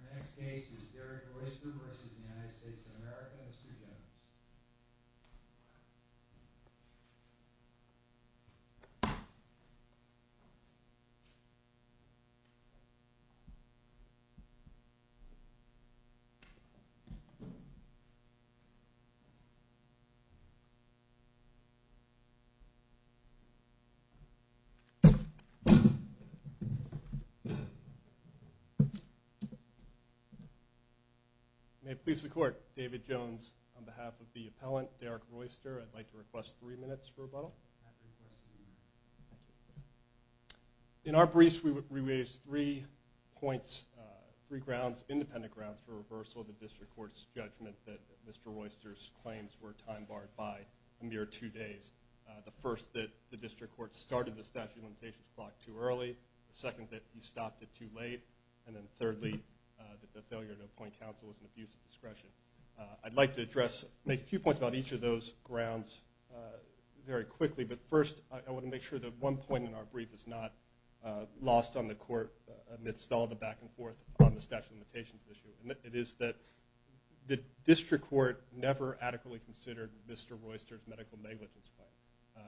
Our next case is Derek Royster v. United States of America and his two generals. May it please the Court, David Jones on behalf of the appellant, Derek Royster, I'd like to request three minutes for rebuttal. In our briefs we raised three points, three grounds, independent grounds for reversal of the District Court's judgment that Mr. Royster's claims were time barred by a mere two days. The first, that the District Court started the statute of limitations block too early. The second, that he stopped it too late. And then thirdly, that the failure to appoint counsel was an abuse of discretion. I'd like to address, make a few points about each of those grounds very quickly. But first, I want to make sure that one point in our brief is not lost on the Court amidst all the back and forth on the statute of limitations issue. It is that the District Court never adequately considered Mr. Royster's medical negligence claim.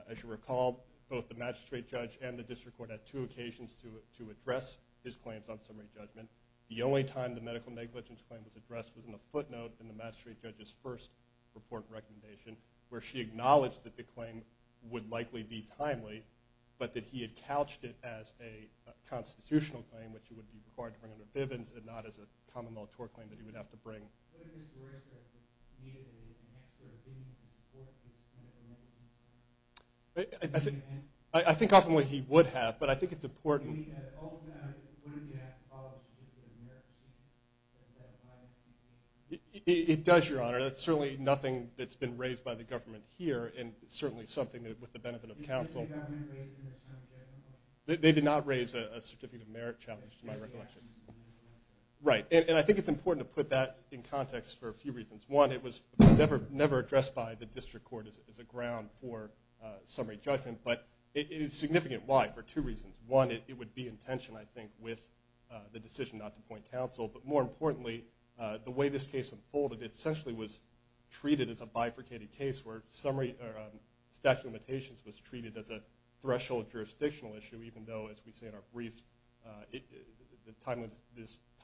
As you recall, both the magistrate judge and the District Court had two occasions to address his claims on summary judgment. The only time the medical negligence claim was addressed was in a footnote in the magistrate judge's first report recommendation, where she acknowledged that the claim would likely be timely, but that he had couched it as a constitutional claim, which it would be required to bring under Bivens, and not as a common law tort claim that he would have to bring. What if Mr. Royster's medical negligence claim didn't support his medical negligence claim? I think oftenly he would have, but I think it's important. If he had all of that, wouldn't he have to follow a certificate of merit? It does, Your Honor. That's certainly nothing that's been raised by the government here, and certainly something that, with the benefit of counsel. Didn't the government raise it in this time in general? Right. And I think it's important to put that in context for a few reasons. One, it was never addressed by the District Court as a ground for summary judgment, but it is significant. Why? For two reasons. One, it would be in tension, I think, with the decision not to appoint counsel. But more importantly, the way this case unfolded, it essentially was treated as a bifurcated case where statute of limitations was treated as a threshold jurisdictional issue, even though, as we say in our brief, the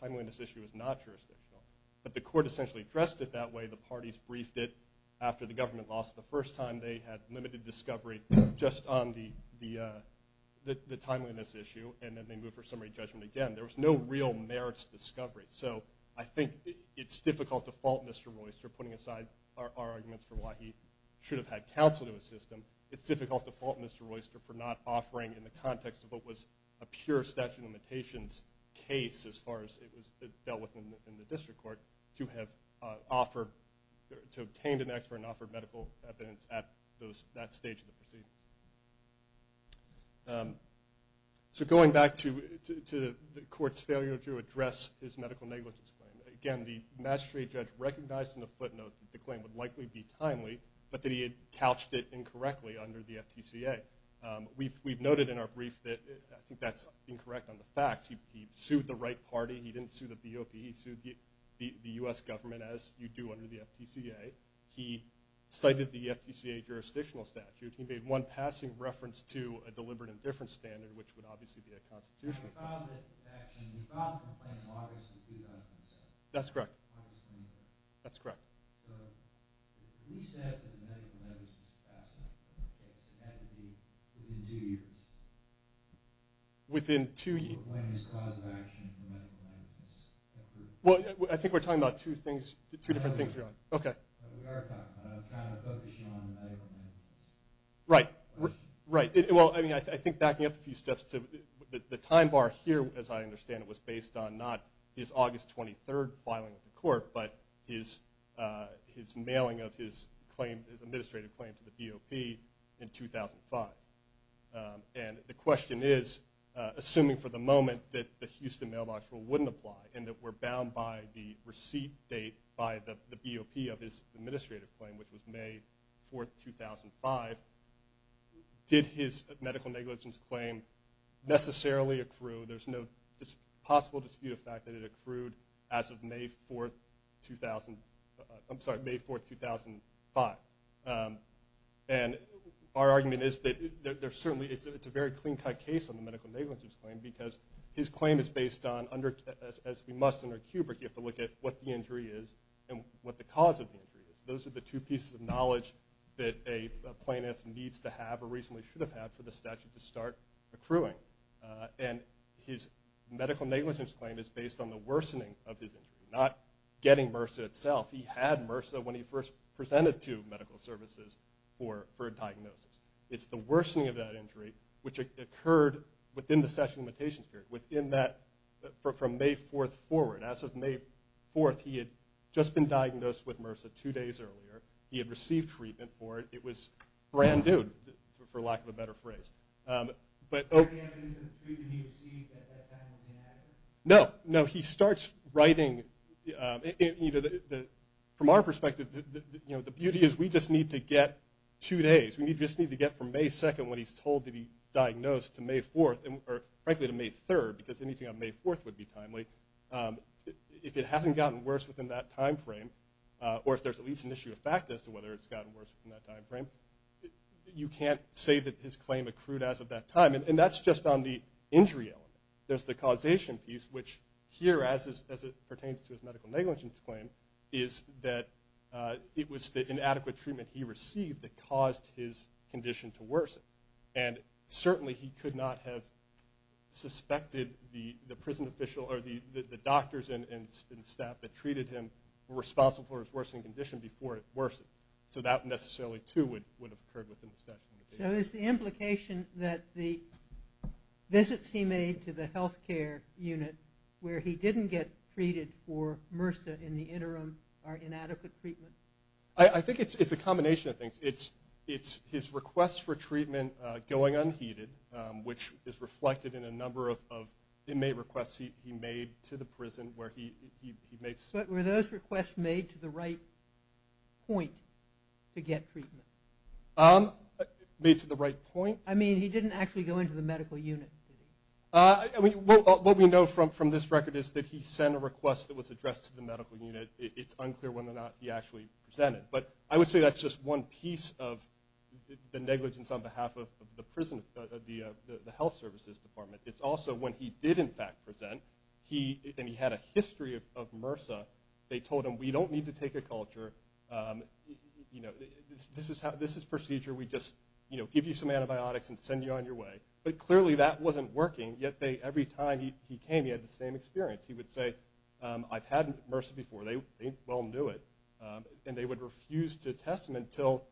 timeliness issue is not jurisdictional. But the court essentially addressed it that way. The parties briefed it after the government lost. The first time they had limited discovery just on the timeliness issue, and then they moved for summary judgment again. There was no real merits discovery. So I think it's difficult to fault Mr. Royster, putting aside our arguments for why he should have had counsel to assist him. It's difficult to fault Mr. Royster for not offering, in the context of what was a pure statute of limitations case, as far as it was dealt with in the District Court, to have obtained an expert and offered medical evidence at that stage of the proceeding. So going back to the court's failure to address his medical negligence claim, again, the magistrate judge recognized in the footnote that the claim would likely be timely, but that he couched it incorrectly under the FTCA. We've noted in our brief that I think that's incorrect on the facts. He sued the right party. He didn't sue the BOP. He sued the U.S. government, as you do under the FTCA. He cited the FTCA jurisdictional statute. He made one passing reference to a deliberate indifference standard, which would obviously be a constitutional. That's correct. That's correct. Okay. Within two years. Well, I think we're talking about two things, two different things here. Okay. Right. Right. Well, I mean, I think backing up a few steps to the time bar here, as I understand it, was based on not his August 23rd filing of the court, but his mailing of his claim, his administrative claim to the BOP in 2005. And the question is, assuming for the moment that the Houston mailbox rule wouldn't apply and that we're bound by the receipt date by the BOP of his administrative claim, which was May 4th, 2005, did his medical negligence claim necessarily accrue? There's no possible dispute of fact that it accrued as of May 4th, 2005. And our argument is that certainly it's a very clean-cut case on the medical negligence claim because his claim is based on, as we must under Kubrick, you have to look at what the injury is and what the cause of the injury is. Those are the two pieces of knowledge that a plaintiff needs to have or reasonably should have had for the statute to start accruing. And his medical negligence claim is based on the worsening of his injury, not getting MRSA itself. He had MRSA when he first presented to medical services for a diagnosis. It's the worsening of that injury, which occurred within the session limitations period, from May 4th forward. As of May 4th, he had just been diagnosed with MRSA two days earlier. He had received treatment for it. It was brand new, for lack of a better phrase. But... No. No. He starts writing, you know, from our perspective, you know, the beauty is we just need to get two days. We just need to get from May 2nd when he's told to be diagnosed to May 4th, or frankly to May 3rd because anything on May 4th would be timely. If it hasn't gotten worse within that time frame, or if there's at least an issue of fact as to whether it's gotten worse within that time frame, you can't say that his claim accrued as of that time. And that's just on the injury element. There's the causation piece, which here, as it pertains to his medical negligence claim, is that it was the inadequate treatment he received that caused his condition to worsen. And certainly he could not have suspected the prison official or the doctors and staff that treated him were responsible for his worsening condition before it worsened. So that necessarily, too, would have occurred within the statute of limitations. So is the implication that the visits he made to the health care unit where he didn't get treated for MRSA in the interim are inadequate treatment? I think it's a combination of things. It's his requests for treatment going unheeded, which is reflected in a number of inmate requests he made to the prison where he makes... But were those requests made to the right point to get treatment? Made to the right point? I mean, he didn't actually go into the medical unit. What we know from this record is that he sent a request that was addressed to the medical unit. It's unclear whether or not he actually presented. But I would say that's just one piece of the negligence on behalf of the health services department. It's also when he did, in fact, present, and he had a history of MRSA, they told him, we don't need to take a culture. This is procedure. We just give you some antibiotics and send you on your way. But clearly that wasn't working. Yet every time he came, he had the same experience. He would say, I've had MRSA before. They well knew it. And they would refuse to test him until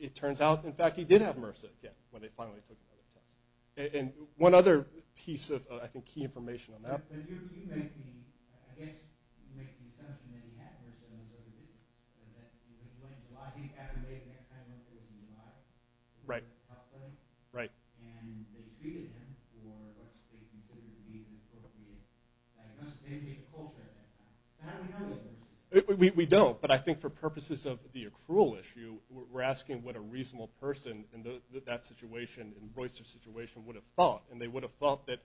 it turns out, in fact, he did have MRSA again when they finally took the test. And one other piece of, I think, key information on that. But you're making, I guess, you're making something that he had MRSA and was overdue. So that he was going to the lobby. Adam May, the next time he went, he was in the lobby. Right. Right. And they treated him for what they considered to be an appropriate diagnosis. They didn't need a culture at that time. How do we know that? We don't. But I think for purposes of the accrual issue, we're asking what a reasonable person in that situation, in Royster's situation, would have thought. And they would have thought that,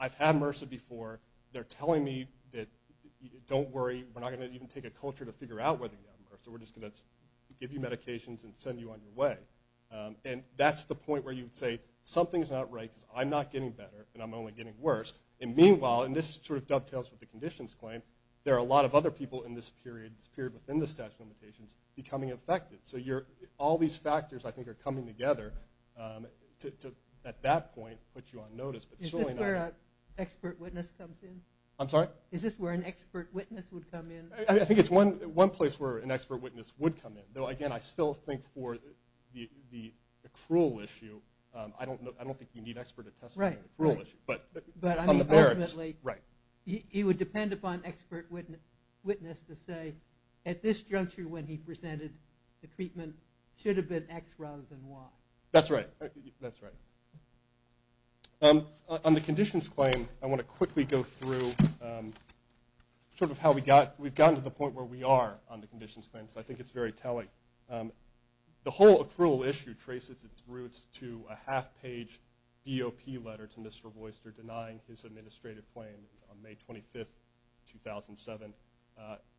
I've had MRSA before. They're telling me that, don't worry. We're not going to even take a culture to figure out whether you have MRSA. We're just going to give you medications and send you on your way. And that's the point where you would say, something's not right because I'm not getting better and I'm only getting worse. And meanwhile, and this sort of dovetails with the conditions claim, there are a lot of other people in this period, this period within the statute of limitations, becoming affected. So all these factors, I think, are coming together to, at that point, put you on notice. Is this where an expert witness comes in? I'm sorry? Is this where an expert witness would come in? I think it's one place where an expert witness would come in. Though, again, I still think for the accrual issue, I don't think you need expert attestment on the accrual issue. But on the merits. He would depend upon expert witness to say, at this juncture when he presented the treatment, it should have been X rather than Y. That's right. That's right. On the conditions claim, I want to quickly go through sort of how we've gotten to the point where we are on the conditions claim because I think it's very telling. The whole accrual issue traces its roots to a half-page DOP letter to Mr. Royster denying his administrative claim on May 25, 2007.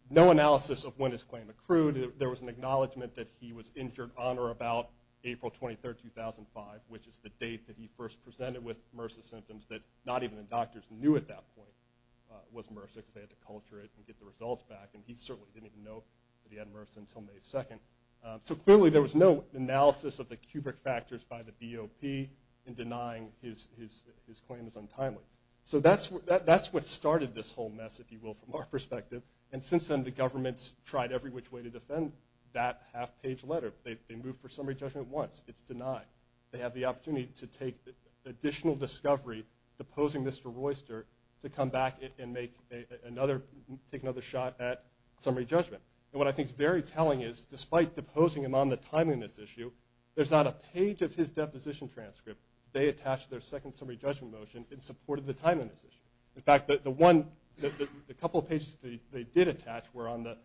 No analysis of when his claim accrued. There was an acknowledgment that he was injured on or about April 23, 2005, which is the date that he first presented with MRSA symptoms that not even the doctors knew at that point was MRSA because they had to culture it and get the results back. And he certainly didn't even know that he had MRSA until May 2. So clearly there was no analysis of the cubic factors by the DOP in denying his claim is untimely. So that's what started this whole mess, if you will, from our perspective. And since then, the government's tried every which way to defend that half-page letter. They moved for summary judgment once. It's denied. They have the opportunity to take additional discovery deposing Mr. Royster to come back and take another shot at summary judgment. And what I think is very telling is despite deposing him on the timeliness issue, there's not a page of his deposition transcript they attached to their second summary judgment motion in support of the timeliness issue. In fact, the couple of pages they did attach were on the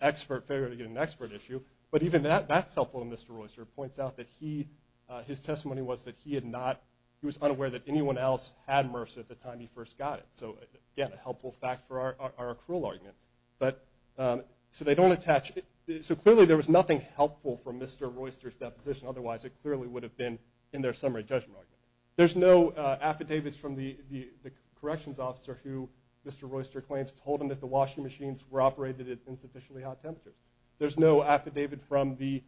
expert failure to get an expert issue. But even that, that's helpful. And Mr. Royster points out that his testimony was that he was unaware that anyone else had MRSA at the time he first got it. So, again, a helpful fact for our accrual argument. But so they don't attach it. So clearly there was nothing helpful from Mr. Royster's deposition. Otherwise, it clearly would have been in their summary judgment argument. There's no affidavits from the corrections officer who Mr. Royster claims told him that the washing machines were operated at insufficiently hot temperatures. There's no affidavit from the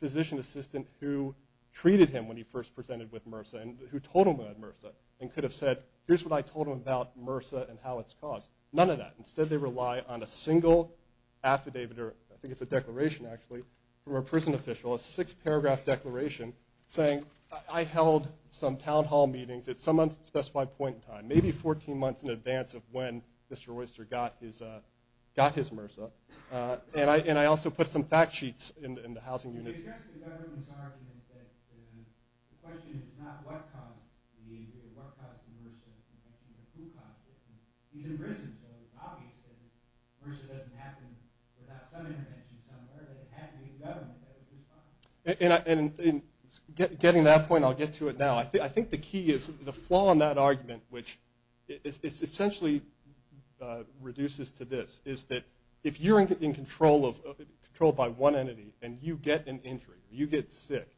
physician assistant who treated him when he first presented with MRSA and who told him about MRSA and could have said, here's what I told him about MRSA and how it's caused. None of that. Instead, they rely on a single affidavit, or I think it's a declaration actually, from a prison official, a six-paragraph declaration saying, I held some town hall meetings at some unspecified point in time, maybe 14 months in advance of when Mr. Royster got his MRSA. And I also put some fact sheets in the housing unit. It's just the government's argument that the question is not what caused the MRSA, it's the question of who caused it. He's in prison, so it's obvious that MRSA doesn't happen without some intervention somewhere, that it had to be the government. And getting to that point, I'll get to it now. I think the key is the flaw in that argument, which essentially reduces to this, is that if you're in control by one entity and you get an injury, you get sick,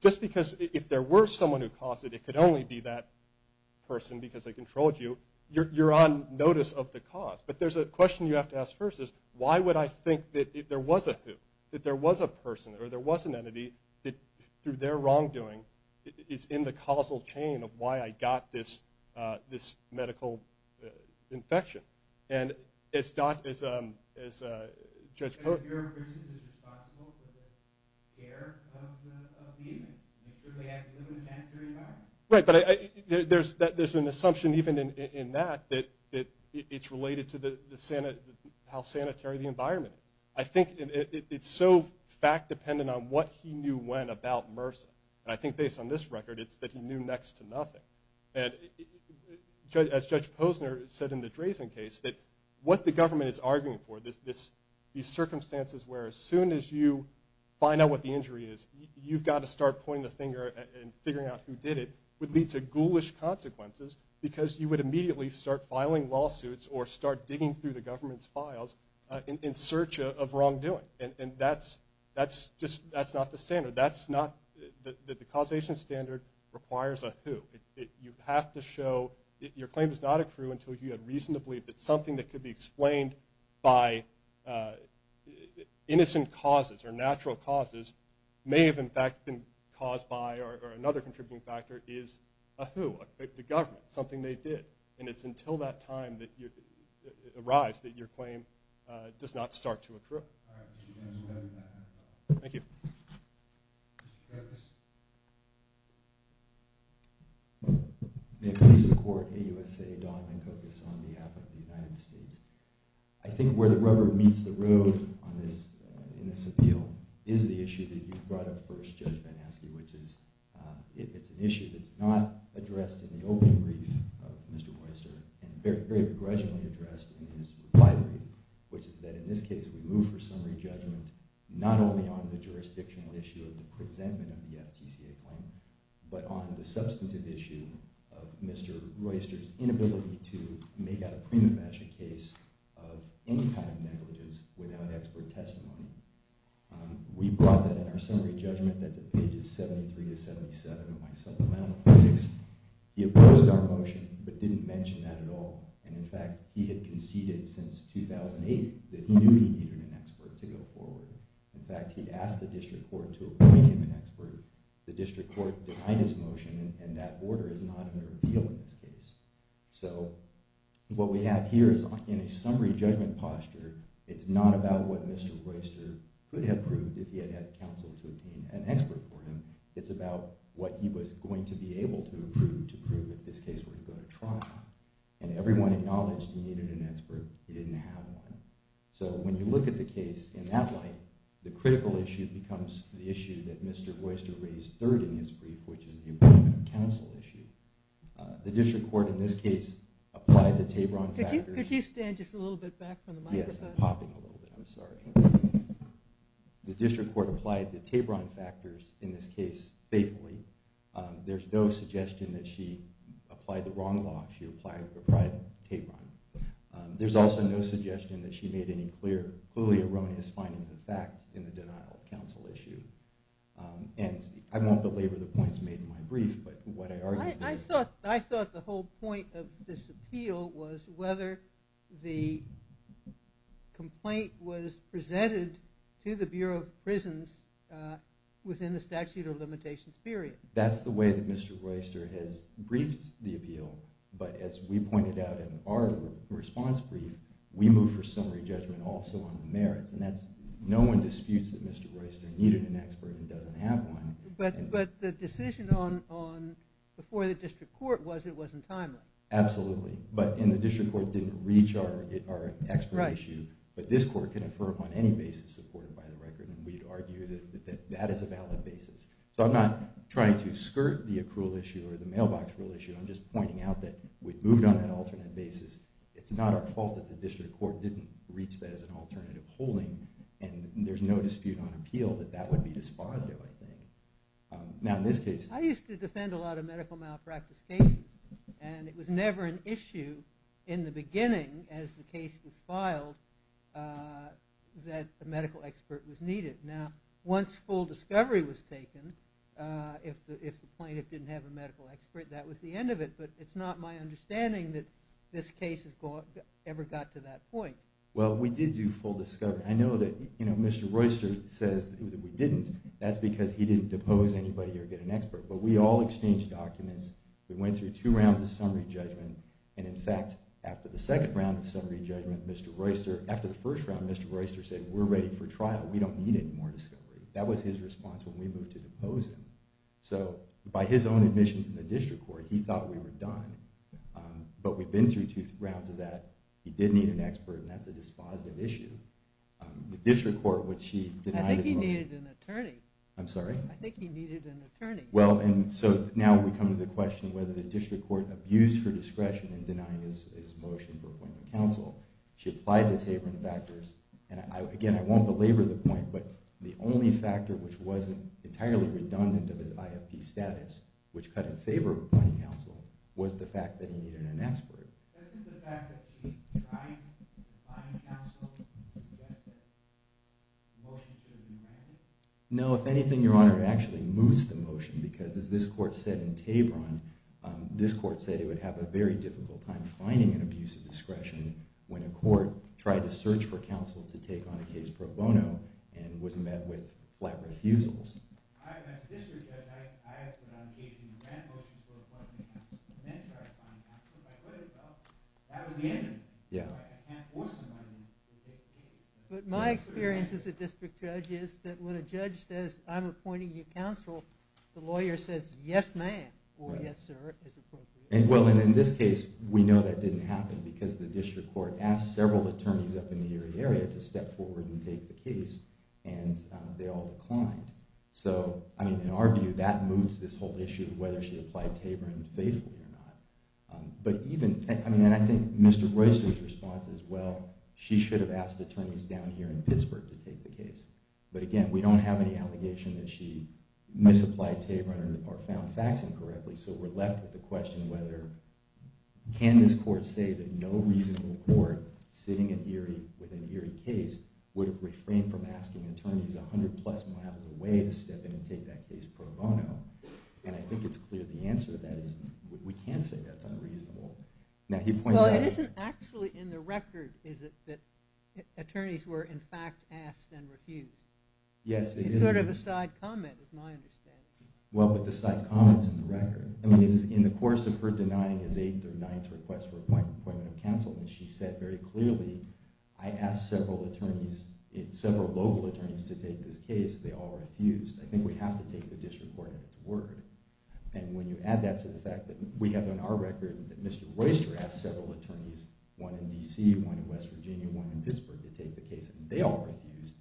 just because if there were someone who caused it, it could only be that person because they controlled you, you're on notice of the cause. But there's a question you have to ask first is, why would I think that there was a who, that there was a person or there was an entity that, through their wrongdoing, is in the causal chain of why I got this medical infection? And as Dr. – as Judge Posner – If you're a person who's responsible for the care of the inmate, you certainly have to live in a sanitary environment. Right, but there's an assumption even in that that it's related to how sanitary the environment is. I think it's so fact-dependent on what he knew when about MRSA, and I think based on this record it's that he knew next to nothing. And as Judge Posner said in the Drazen case, that what the government is arguing for, these circumstances where as soon as you find out what the injury is, you've got to start pointing the finger and figuring out who did it, would lead to ghoulish consequences because you would immediately start filing lawsuits or start digging through the government's files in search of wrongdoing. And that's just – that's not the standard. The causation standard requires a who. You have to show – your claim does not accrue until you have reason to believe that something that could be explained by innocent causes or natural causes may have in fact been caused by or another contributing factor is a who, the government, something they did. And it's until that time arrives that your claim does not start to accrue. Thank you. May it please the Court, AUSA, Don Van Kokus on behalf of the United States. I think where the rubber meets the road in this appeal is the issue that you brought up first, Judge Van Aske, which is it's an issue that's not addressed in the opening brief of Mr. Posner and very begrudgingly addressed in his replied brief, which is that in this case we move for summary judgment not only on the jurisdictional issue of the presentment of the FTCA claim, but on the substantive issue of Mr. Royster's inability to make out a prima facie case of any kind of negligence without expert testimony. We brought that in our summary judgment. That's at pages 73 to 77 of my supplemental briefs. He opposed our motion, but didn't mention that at all. And in fact, he had conceded since 2008 that he knew he needed an expert to go forward. In fact, he asked the District Court to approve him an expert. The District Court denied his motion, and that order is not under appeal in this case. So what we have here is in a summary judgment posture. It's not about what Mr. Royster could have proved if he had had counsel to obtain an expert for him. It's about what he was going to be able to prove to prove if this case were to go to trial. And everyone acknowledged he needed an expert. He didn't have one. So when you look at the case in that light, the critical issue becomes the issue that Mr. Royster raised third in his brief, which is the appointment of counsel issue. The District Court in this case applied the Tabron factors. Could you stand just a little bit back from the microphone? Yes, I'm popping a little bit. I'm sorry. The District Court applied the Tabron factors in this case faithfully. There's no suggestion that she applied the wrong law. She applied the Tabron. There's also no suggestion that she made any clear, clearly erroneous findings of fact in the denial of counsel issue. And I won't belabor the points made in my brief, but what I argue is— The point of this appeal was whether the complaint was presented to the Bureau of Prisons within the statute of limitations period. That's the way that Mr. Royster has briefed the appeal. But as we pointed out in our response brief, we move for summary judgment also on the merits. And no one disputes that Mr. Royster needed an expert and doesn't have one. But the decision before the District Court was it wasn't timely. Absolutely. And the District Court didn't reach our expert issue. But this court can infer upon any basis supported by the record, and we'd argue that that is a valid basis. So I'm not trying to skirt the accrual issue or the mailbox rule issue. I'm just pointing out that we've moved on an alternate basis. It's not our fault that the District Court didn't reach that as an alternative holding, and there's no dispute on appeal that that would be dispositive, I think. Now, in this case— I used to defend a lot of medical malpractice cases, and it was never an issue in the beginning as the case was filed that a medical expert was needed. Now, once full discovery was taken, if the plaintiff didn't have a medical expert, that was the end of it. But it's not my understanding that this case ever got to that point. Well, we did do full discovery. I know that Mr. Royster says that we didn't. That's because he didn't depose anybody or get an expert. But we all exchanged documents. We went through two rounds of summary judgment. And, in fact, after the second round of summary judgment, Mr. Royster— after the first round, Mr. Royster said, We're ready for trial. We don't need any more discovery. That was his response when we moved to depose him. So by his own admissions in the District Court, he thought we were done. But we've been through two rounds of that. He did need an expert, and that's a dispositive issue. The District Court, which she— I think he needed an attorney. I'm sorry? I think he needed an attorney. Well, and so now we come to the question of whether the District Court abused her discretion in denying his motion for appointing counsel. She applied the Taborn factors. And, again, I won't belabor the point, but the only factor which wasn't entirely redundant of his IFP status, which cut in favor of appointing counsel, was the fact that he needed an expert. Isn't the fact that she tried to find counsel to get the motion to be granted? No. If anything, Your Honor, it actually moves the motion because, as this court said in Taborn, this court said it would have a very difficult time finding an abuse of discretion when a court tried to search for counsel to take on a case pro bono and was met with flat refusals. As a district judge, I have put on the case and ran motions for appointing counsel and then tried to find counsel, but I couldn't help it. That was the end of it. I can't force somebody to take the case. But my experience as a district judge is that when a judge says, I'm appointing you counsel, the lawyer says, yes, ma'am, or yes, sir, as opposed to yes, ma'am. Well, and in this case, we know that didn't happen because the District Court asked several attorneys up in the area to step forward and take the case, and they all declined. So, I mean, in our view, that moves this whole issue of whether she applied Taborn faithfully or not. And I think Mr. Royster's response is, well, she should have asked attorneys down here in Pittsburgh to take the case. But again, we don't have any allegation that she misapplied Taborn or found facts incorrectly, so we're left with the question whether can this court say that no reasonable court sitting with an Erie case would have refrained from asking attorneys 100-plus miles away to step in and take that case pro bono. And I think it's clear the answer to that is we can't say that's unreasonable. Now, he points out... Well, it isn't actually in the record, is it, that attorneys were in fact asked and refused? Yes, it is. It's sort of a side comment, is my understanding. Well, but the side comment's in the record. I mean, in the course of her denying his eighth or ninth request for appointment of counsel, she said very clearly, I asked several attorneys, several local attorneys to take this case. They all refused. I think we have to take the district court at its word. And when you add that to the fact that we have on our record that Mr. Royster asked several attorneys, one in D.C., one in West Virginia, one in Pittsburgh, to take the case, and they all refused,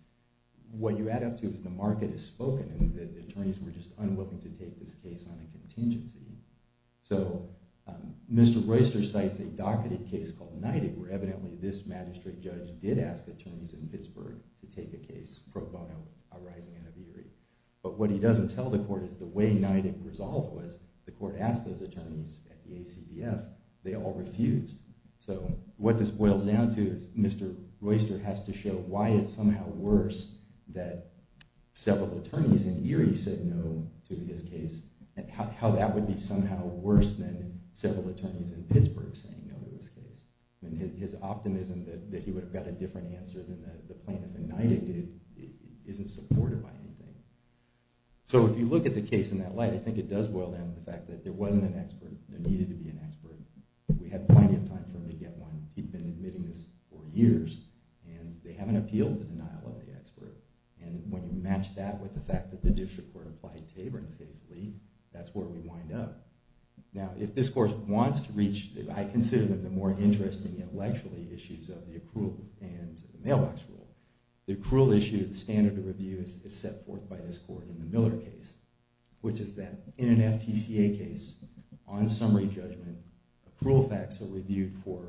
what you add up to is the market has spoken and the attorneys were just unwilling to take this case on a contingency. So Mr. Royster cites a docketed case called Knighted where evidently this magistrate judge did ask attorneys in Pittsburgh to take a case pro bono arising out of Erie. But what he doesn't tell the court is the way Knighted resolved was the court asked those attorneys at the ACBF. They all refused. So what this boils down to is Mr. Royster has to show why it's somehow worse that several attorneys in Erie said no to his case and how that would be somehow worse than several attorneys in Pittsburgh saying no to his case. And his optimism that he would have got a different answer than the plaintiff in Knighted did isn't supported by anything. So if you look at the case in that light, I think it does boil down to the fact that there wasn't an expert. There needed to be an expert. We had plenty of time for him to get one. He'd been admitting this for years. And they haven't appealed the denial of the expert. And when you match that with the fact that the district court applied Taborn faithfully, that's where we wind up. Now, if this court wants to reach, I consider them the more interesting intellectually issues of the accrual and the mailbox rule, the accrual issue, the standard of review is set forth by this court in the Miller case, which is that in an FTCA case, on summary judgment, accrual facts are reviewed for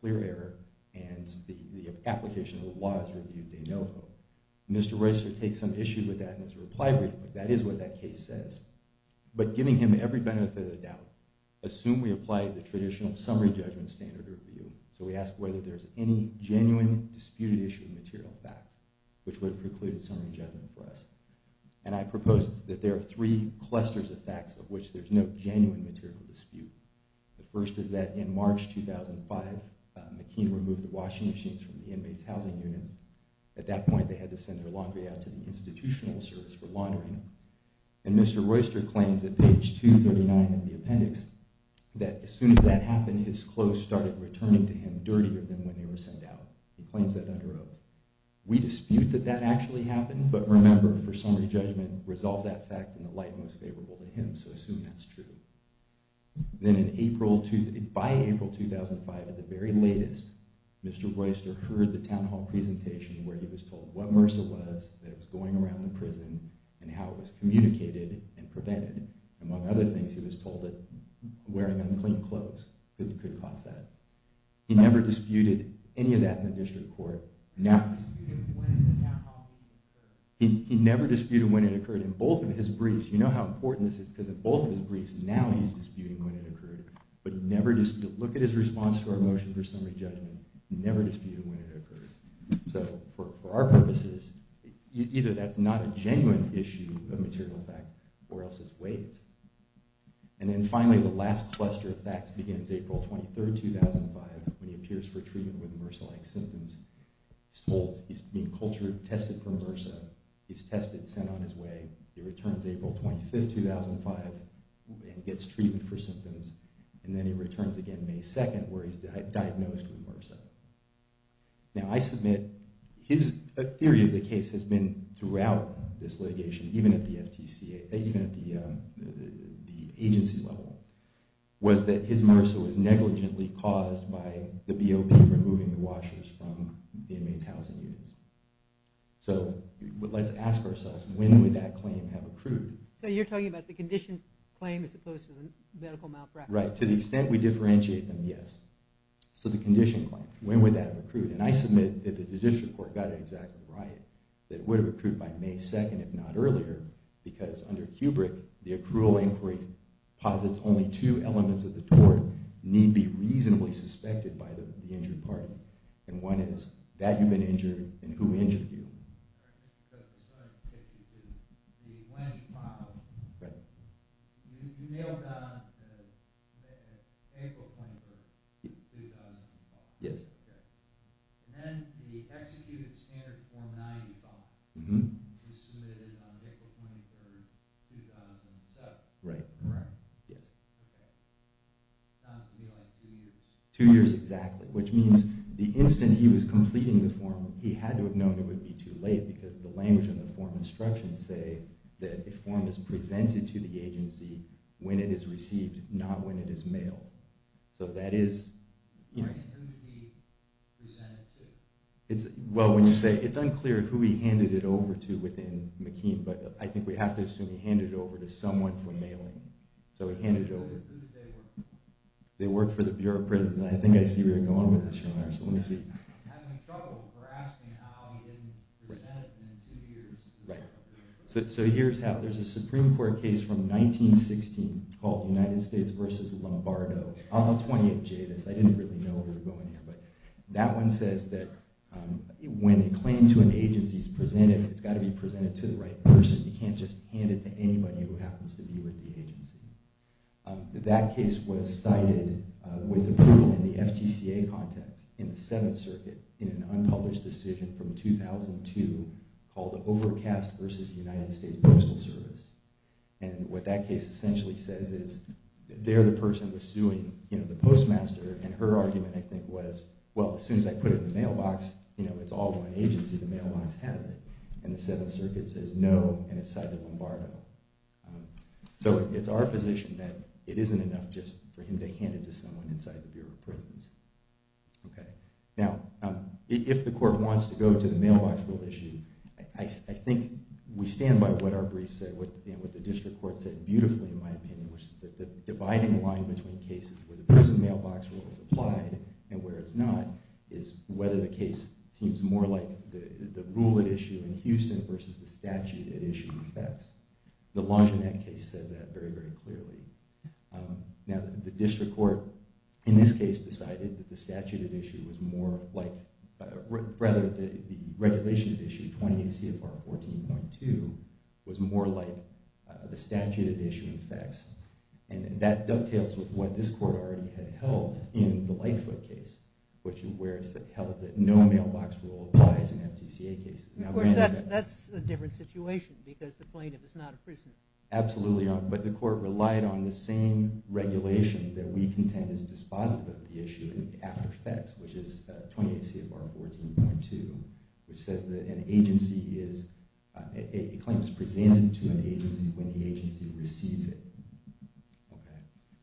clear error and the application of the law is reviewed de novo. Mr. Royster takes some issue with that and has to reply briefly. That is what that case says. But giving him every benefit of the doubt, assume we apply the traditional summary judgment standard of review. So we ask whether there's any genuine disputed issue material fact which would have precluded summary judgment for us. And I propose that there are three clusters of facts of which there's no genuine material dispute. The first is that in March 2005, McKean removed the washing machines from the inmates' housing units. At that point, they had to send their laundry out to the institutional service for laundering. And Mr. Royster claims at page 239 of the appendix that as soon as that happened, his clothes started returning to him dirtier than when they were sent out. He claims that under oath. We dispute that that actually happened, but remember, for summary judgment, resolve that fact in the light most favorable to him. So assume that's true. Then by April 2005, at the very latest, Mr. Royster heard the town hall presentation where he was told what MRSA was, that it was going around the prison, and how it was communicated and prevented. Among other things, he was told that wearing unclean clothes could cause that. He never disputed any of that in the district court. He never disputed when it occurred. In both of his briefs, you know how important this is because in both of his briefs, now he's disputing when it occurred. But look at his response to our motion for summary judgment. He never disputed when it occurred. So for our purposes, either that's not a genuine issue of material fact or else it's waves. And then finally, the last cluster of facts begins April 23rd, 2005 when he appears for treatment with MRSA-like symptoms. He's told he's being cultured, tested for MRSA. He's tested, sent on his way. He returns April 25th, 2005 and gets treatment for symptoms. And then he returns again May 2nd where he's diagnosed with MRSA. Now I submit his theory of the case has been throughout this litigation even at the agency level, was that his MRSA was negligently caused by the BOP removing the washers from the inmates' housing units. So let's ask ourselves, when would that claim have accrued? So you're talking about the condition claim as opposed to the medical malpractice claim? Right, to the extent we differentiate them, yes. So the condition claim, when would that have accrued? And I submit that the Judicial Court got it exactly right, that it would have accrued by May 2nd if not earlier because under Kubrick, the accrual inquiry posits only two elements of the tort need be reasonably suspected by the injured party. And one is that you've been injured and who injured you. I think it's 152. When he filed, you nailed down April 23rd, 2012. Yes. And then the executed standard form 90 file was submitted on April 23rd, 2007. Right, right, yes. Okay. It sounds to me like two years. Two years, exactly, which means the instant he was completing the form, he had to have known it would be too late because the language in the form instructions say that a form is presented to the agency when it is received, not when it is mailed. So that is... Right, and who did he present it to? Well, when you say... It's unclear who he handed it over to within McKean, but I think we have to assume he handed it over to someone for mailing. So he handed it over... Who did they work for? They worked for the Bureau of Prisons. I think I see where you're going with this, Your Honor. So let me see. I'm having trouble for asking how he didn't present it in two years. Right. So here's how. There's a Supreme Court case from 1916 called United States v. Lombardo, on the 20th jadis. I didn't really know where we were going here, but that one says that when a claim to an agency is presented, it's got to be presented to the right person. You can't just hand it to anybody who happens to be with the agency. That case was cited with approval in the FTCA context in the Seventh Circuit in an unpublished decision from 2002 called Overcast v. United States Postal Service. And what that case essentially says is there the person was suing the postmaster, and her argument, I think, was, well, as soon as I put it in the mailbox, it's all one agency. The mailbox has it. And the Seventh Circuit says no, and it's cited Lombardo. So it's our position that it isn't enough just for him to hand it to someone inside the Bureau of Prisons. Now, if the court wants to go to the mailbox rule issue, I think we stand by what our brief said, what the district court said beautifully, in my opinion, which is that the dividing line between cases where the prison mailbox rule is applied and where it's not is whether the case seems more like the rule at issue in Houston versus the statute at issue. The Longinette case says that very, very clearly. Now, the district court in this case decided that the statute at issue was more like, rather, the regulation at issue, 28 CFR 14.2, was more like the statute at issue in effects. And that dovetails with what this court already had held in the Lightfoot case, where it held that no mailbox rule applies in FTCA cases. Of course, that's a different situation, because the plaintiff is not a prisoner. Absolutely. But the court relied on the same regulation that we contend is dispositive of the issue in the after effects, which is 28 CFR 14.2, which says that a claim is presented to an agency when the agency receives it.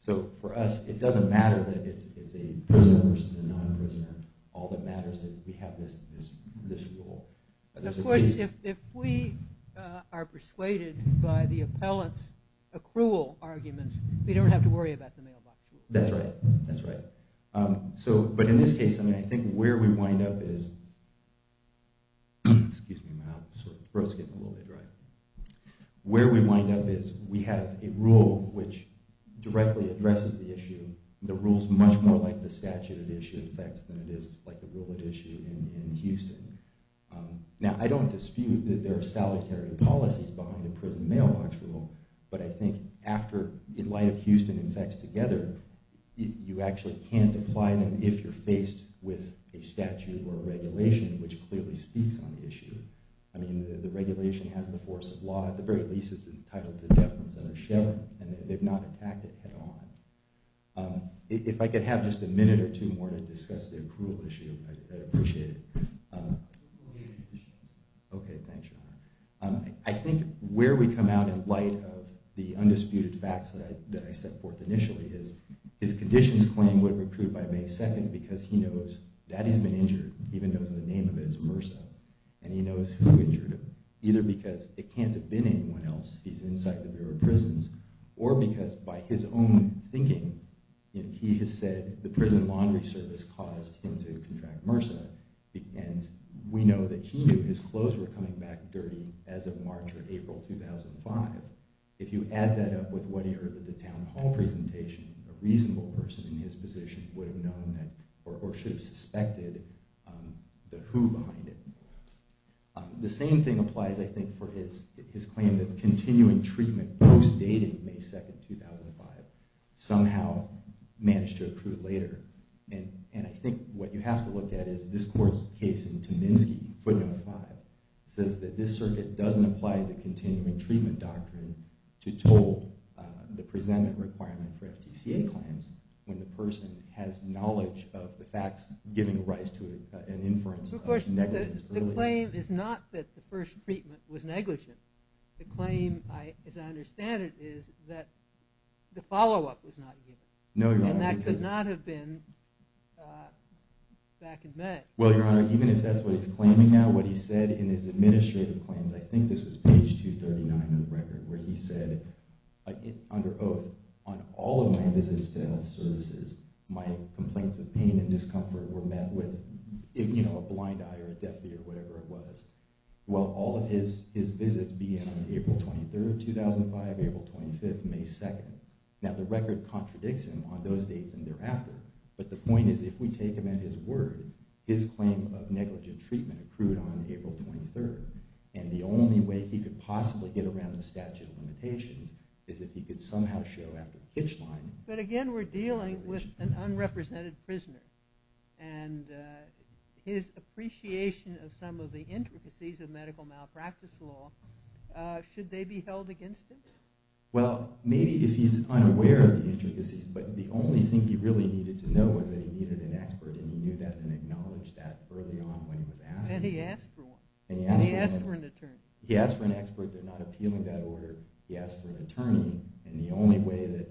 So for us, it doesn't matter that it's a prisoner versus a non-prisoner. All that matters is we have this rule. And of course, if we are persuaded by the appellant's accrual arguments, we don't have to worry about the mailbox rule. That's right. That's right. But in this case, I think where we wind up is, excuse me, my throat's getting a little bit dry. Where we wind up is we have a rule which directly addresses the issue. The rule's much more like the statute at issue in effects than it is like the rule at issue in Houston. Now, I don't dispute that there are solitary policies behind the prison mailbox rule. But I think after, in light of Houston and effects together, you actually can't apply them if you're faced with a statute or a regulation which clearly speaks on the issue. I mean, the regulation has the force of law. At the very least, it's entitled to deference and a sheriff. And they've not attacked it at all. If I could have just a minute or two more to discuss the accrual issue, I'd appreciate it. OK, thanks, Your Honor. I think where we come out in light of the undisputed facts that I set forth initially is his conditions claim would have accrued by May 2 because he knows that he's been injured, even though the name of it is MRSA. And he knows who injured him, either because it can't have been anyone else. He's inside the Bureau of Prisons. Or because by his own thinking, he has said the prison laundry service caused him to contract MRSA. And we know that he knew his clothes were coming back dirty as of March or April 2005. If you add that up with what he heard at the town hall presentation, a reasonable person in his position would have known or should have suspected the who behind it. The same thing applies, I think, for his claim that continuing treatment post-dating May 2, 2005 somehow managed to accrue later. And I think what you have to look at is this court's case in Tominski, footnote 5, says that this circuit doesn't apply the continuing treatment doctrine to toll the presentment requirement for FTCA claims when the person has knowledge of the facts giving rise to an inference of negligence earlier. Of course, the claim is not that the first treatment was negligent. The claim, as I understand it, is that the follow-up was not given. No, Your Honor. And that could not have been back and met. Well, Your Honor, even if that's what he's claiming now, what he said in his administrative claims, I think this was page 239 of the record, where he said, under oath, on all of my visits to health services, my complaints of pain and discomfort were met with a blind eye or a deaf ear or whatever it was. Well, all of his visits began on April 23, 2005, April 25, May 2. Now, the record contradicts him on those dates and thereafter. But the point is, if we take him at his word, his claim of negligent treatment accrued on April 23. And the only way he could possibly get around the statute of limitations is if he could somehow show after the pitch line. But again, we're dealing with an unrepresented prisoner. And his appreciation of some of the intricacies of medical malpractice law, should they be held against him? Well, maybe if he's unaware of the intricacies. But the only thing he really needed to know was that he needed an expert. And he knew that and acknowledged that early on when he was asked. And he asked for one. And he asked for an attorney. He asked for an expert. They're not appealing that order. He asked for an attorney. And the only way that,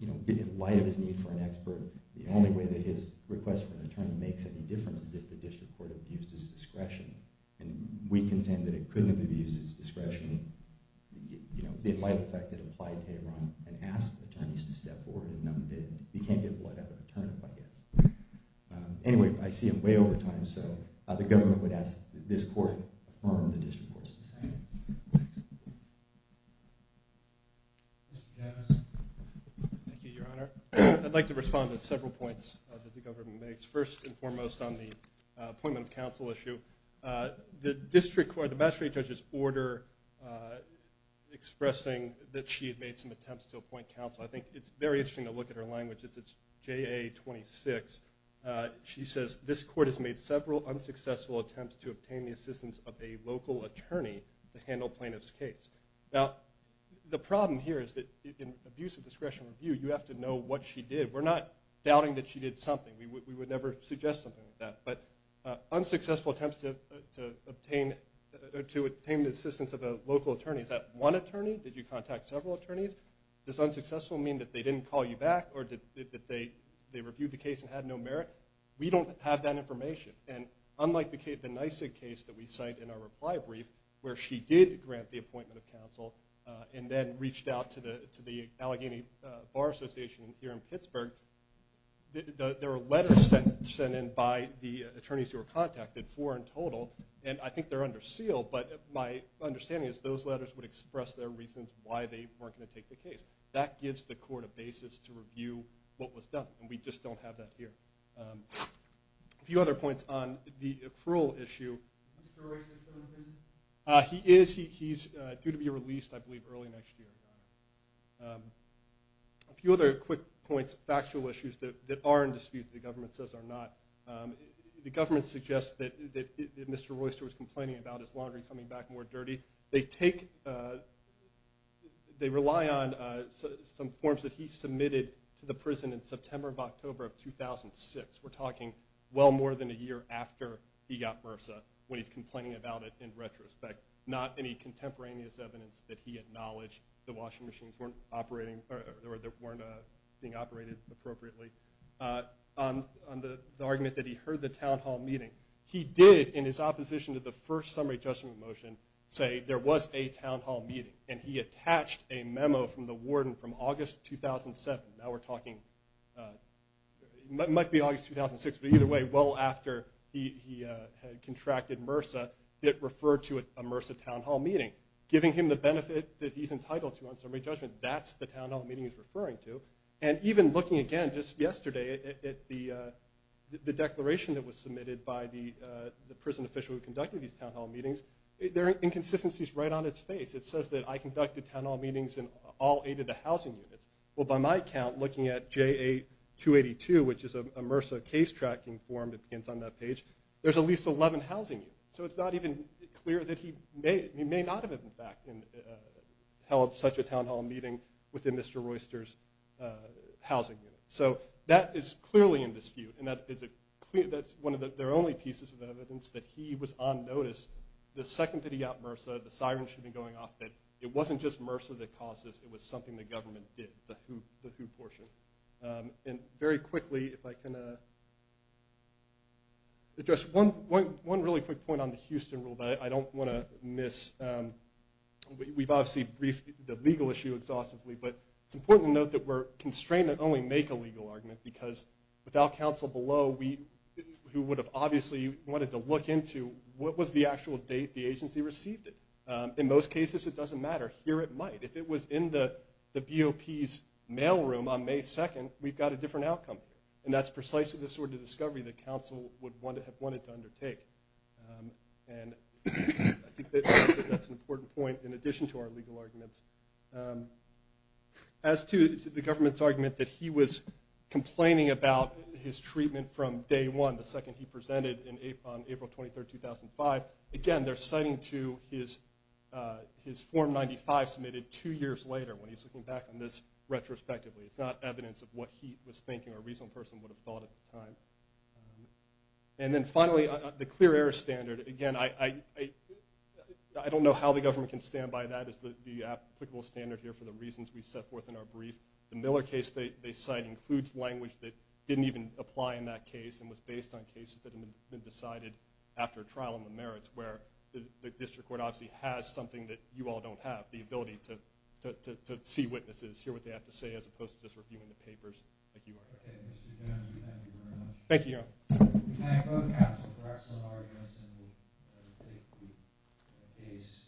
in light of his need for an expert, the only way that his request for an attorney makes any difference is if the district court abused his discretion. And we contend that it couldn't have abused his discretion, in light of the fact that it applied to Iran and asked attorneys to step forward. And no, it didn't. He can't get blood out of an attorney, I guess. Anyway, I see him way over time. So the government would ask that this court affirm the district court's decision. Mr. Dennis? Thank you, Your Honor. I'd like to respond to several points that the government makes, first and foremost on the appointment of counsel issue. The district court, the magistrate judge's order expressing that she had made some attempts to appoint counsel. I think it's very interesting to look at her language. It's JA-26. She says, this court has made several unsuccessful attempts to obtain the assistance of a local attorney to handle plaintiff's case. Now, the problem here is that in abuse of discretion review, you have to know what she did. We're not doubting that she did something. We would never suggest something like that. But unsuccessful attempts to obtain the assistance of a local attorney. Is that one attorney? Did you contact several attorneys? Does unsuccessful mean that they didn't call you back, or that they reviewed the case and had no merit? We don't have that information. And unlike the NYSIG case that we cite in our reply brief, where she did grant the appointment of counsel and then reached out to the Allegheny Bar Association here in Pittsburgh, there were letters sent in by the attorneys who were contacted, four in total. And I think they're under seal, but my understanding is those letters would express their reasons why they weren't going to take the case. That gives the court a basis to review what was done. And we just don't have that here. A few other points on the accrual issue. Is Mr. O'Regan still in prison? He is. He's due to be released, I believe, early next year. A few other quick points, factual issues, that are in dispute that the government says are not. The government suggests that Mr. Royster was complaining about his laundry coming back more dirty. They take, they rely on some forms that he submitted to the prison in September of October of 2006. We're talking well more than a year after he got MRSA, when he's complaining about it in retrospect. Not any contemporaneous evidence that he acknowledged the washing machines weren't operating, or they weren't being operated appropriately. On the argument that he heard the town hall meeting, he did, in his opposition to the first summary judgment motion, say there was a town hall meeting. And he attached a memo from the warden from August 2007. Now we're talking, it might be August 2006, but either way, well after he had contracted MRSA, it referred to a MRSA town hall meeting, giving him the benefit that he's entitled to on summary judgment. That's the town hall meeting he's referring to. And even looking again, just yesterday, at the declaration that was submitted by the prison official who conducted these town hall meetings, there are inconsistencies right on its face. It says that I conducted town hall meetings in all eight of the housing units. Well, by my count, looking at JA-282, which is a MRSA case tracking form that begins on that page, there's at least 11 housing units. So it's not even clear that he may not have, in fact, held such a town hall meeting within Mr. Royster's housing unit. So that is clearly in dispute, and that's one of their only pieces of evidence that he was on notice the second that he got MRSA, the sirens should be going off, that it wasn't just MRSA that caused this, it was something the government did, the WHO portion. And very quickly, if I can address one really quick point on the Houston rule that I don't want to miss. We've obviously briefed the legal issue exhaustively, but it's important to note that we're constrained to only make a legal argument, because without counsel below, who would have obviously wanted to look into what was the actual date the agency received it. In most cases, it doesn't matter. Here it might. If it was in the BOP's mailroom on May 2nd, we've got a different outcome, and that's precisely the sort of discovery that counsel would have wanted to undertake. And I think that's an important point in addition to our legal arguments. As to the government's argument that he was complaining about his treatment from day one, the second he presented on April 23rd, 2005, again, they're citing to his Form 95 submitted two years later when he's looking back on this retrospectively. It's not evidence of what he was thinking or a reasonable person would have thought at the time. And then finally, the clear error standard. Again, I don't know how the government can stand by that as the applicable standard here for the reasons we set forth in our brief. The Miller case they cite includes language that didn't even apply in that case and was based on cases that had been decided after a trial on the merits where the district court obviously has something that you all don't have, the ability to see witnesses, hear what they have to say, as opposed to just reviewing the papers like you are here. Okay, Mr. Jones, we thank you very much. Thank you, Your Honor. We thank both counsel for excellent arguments in the case under discussion.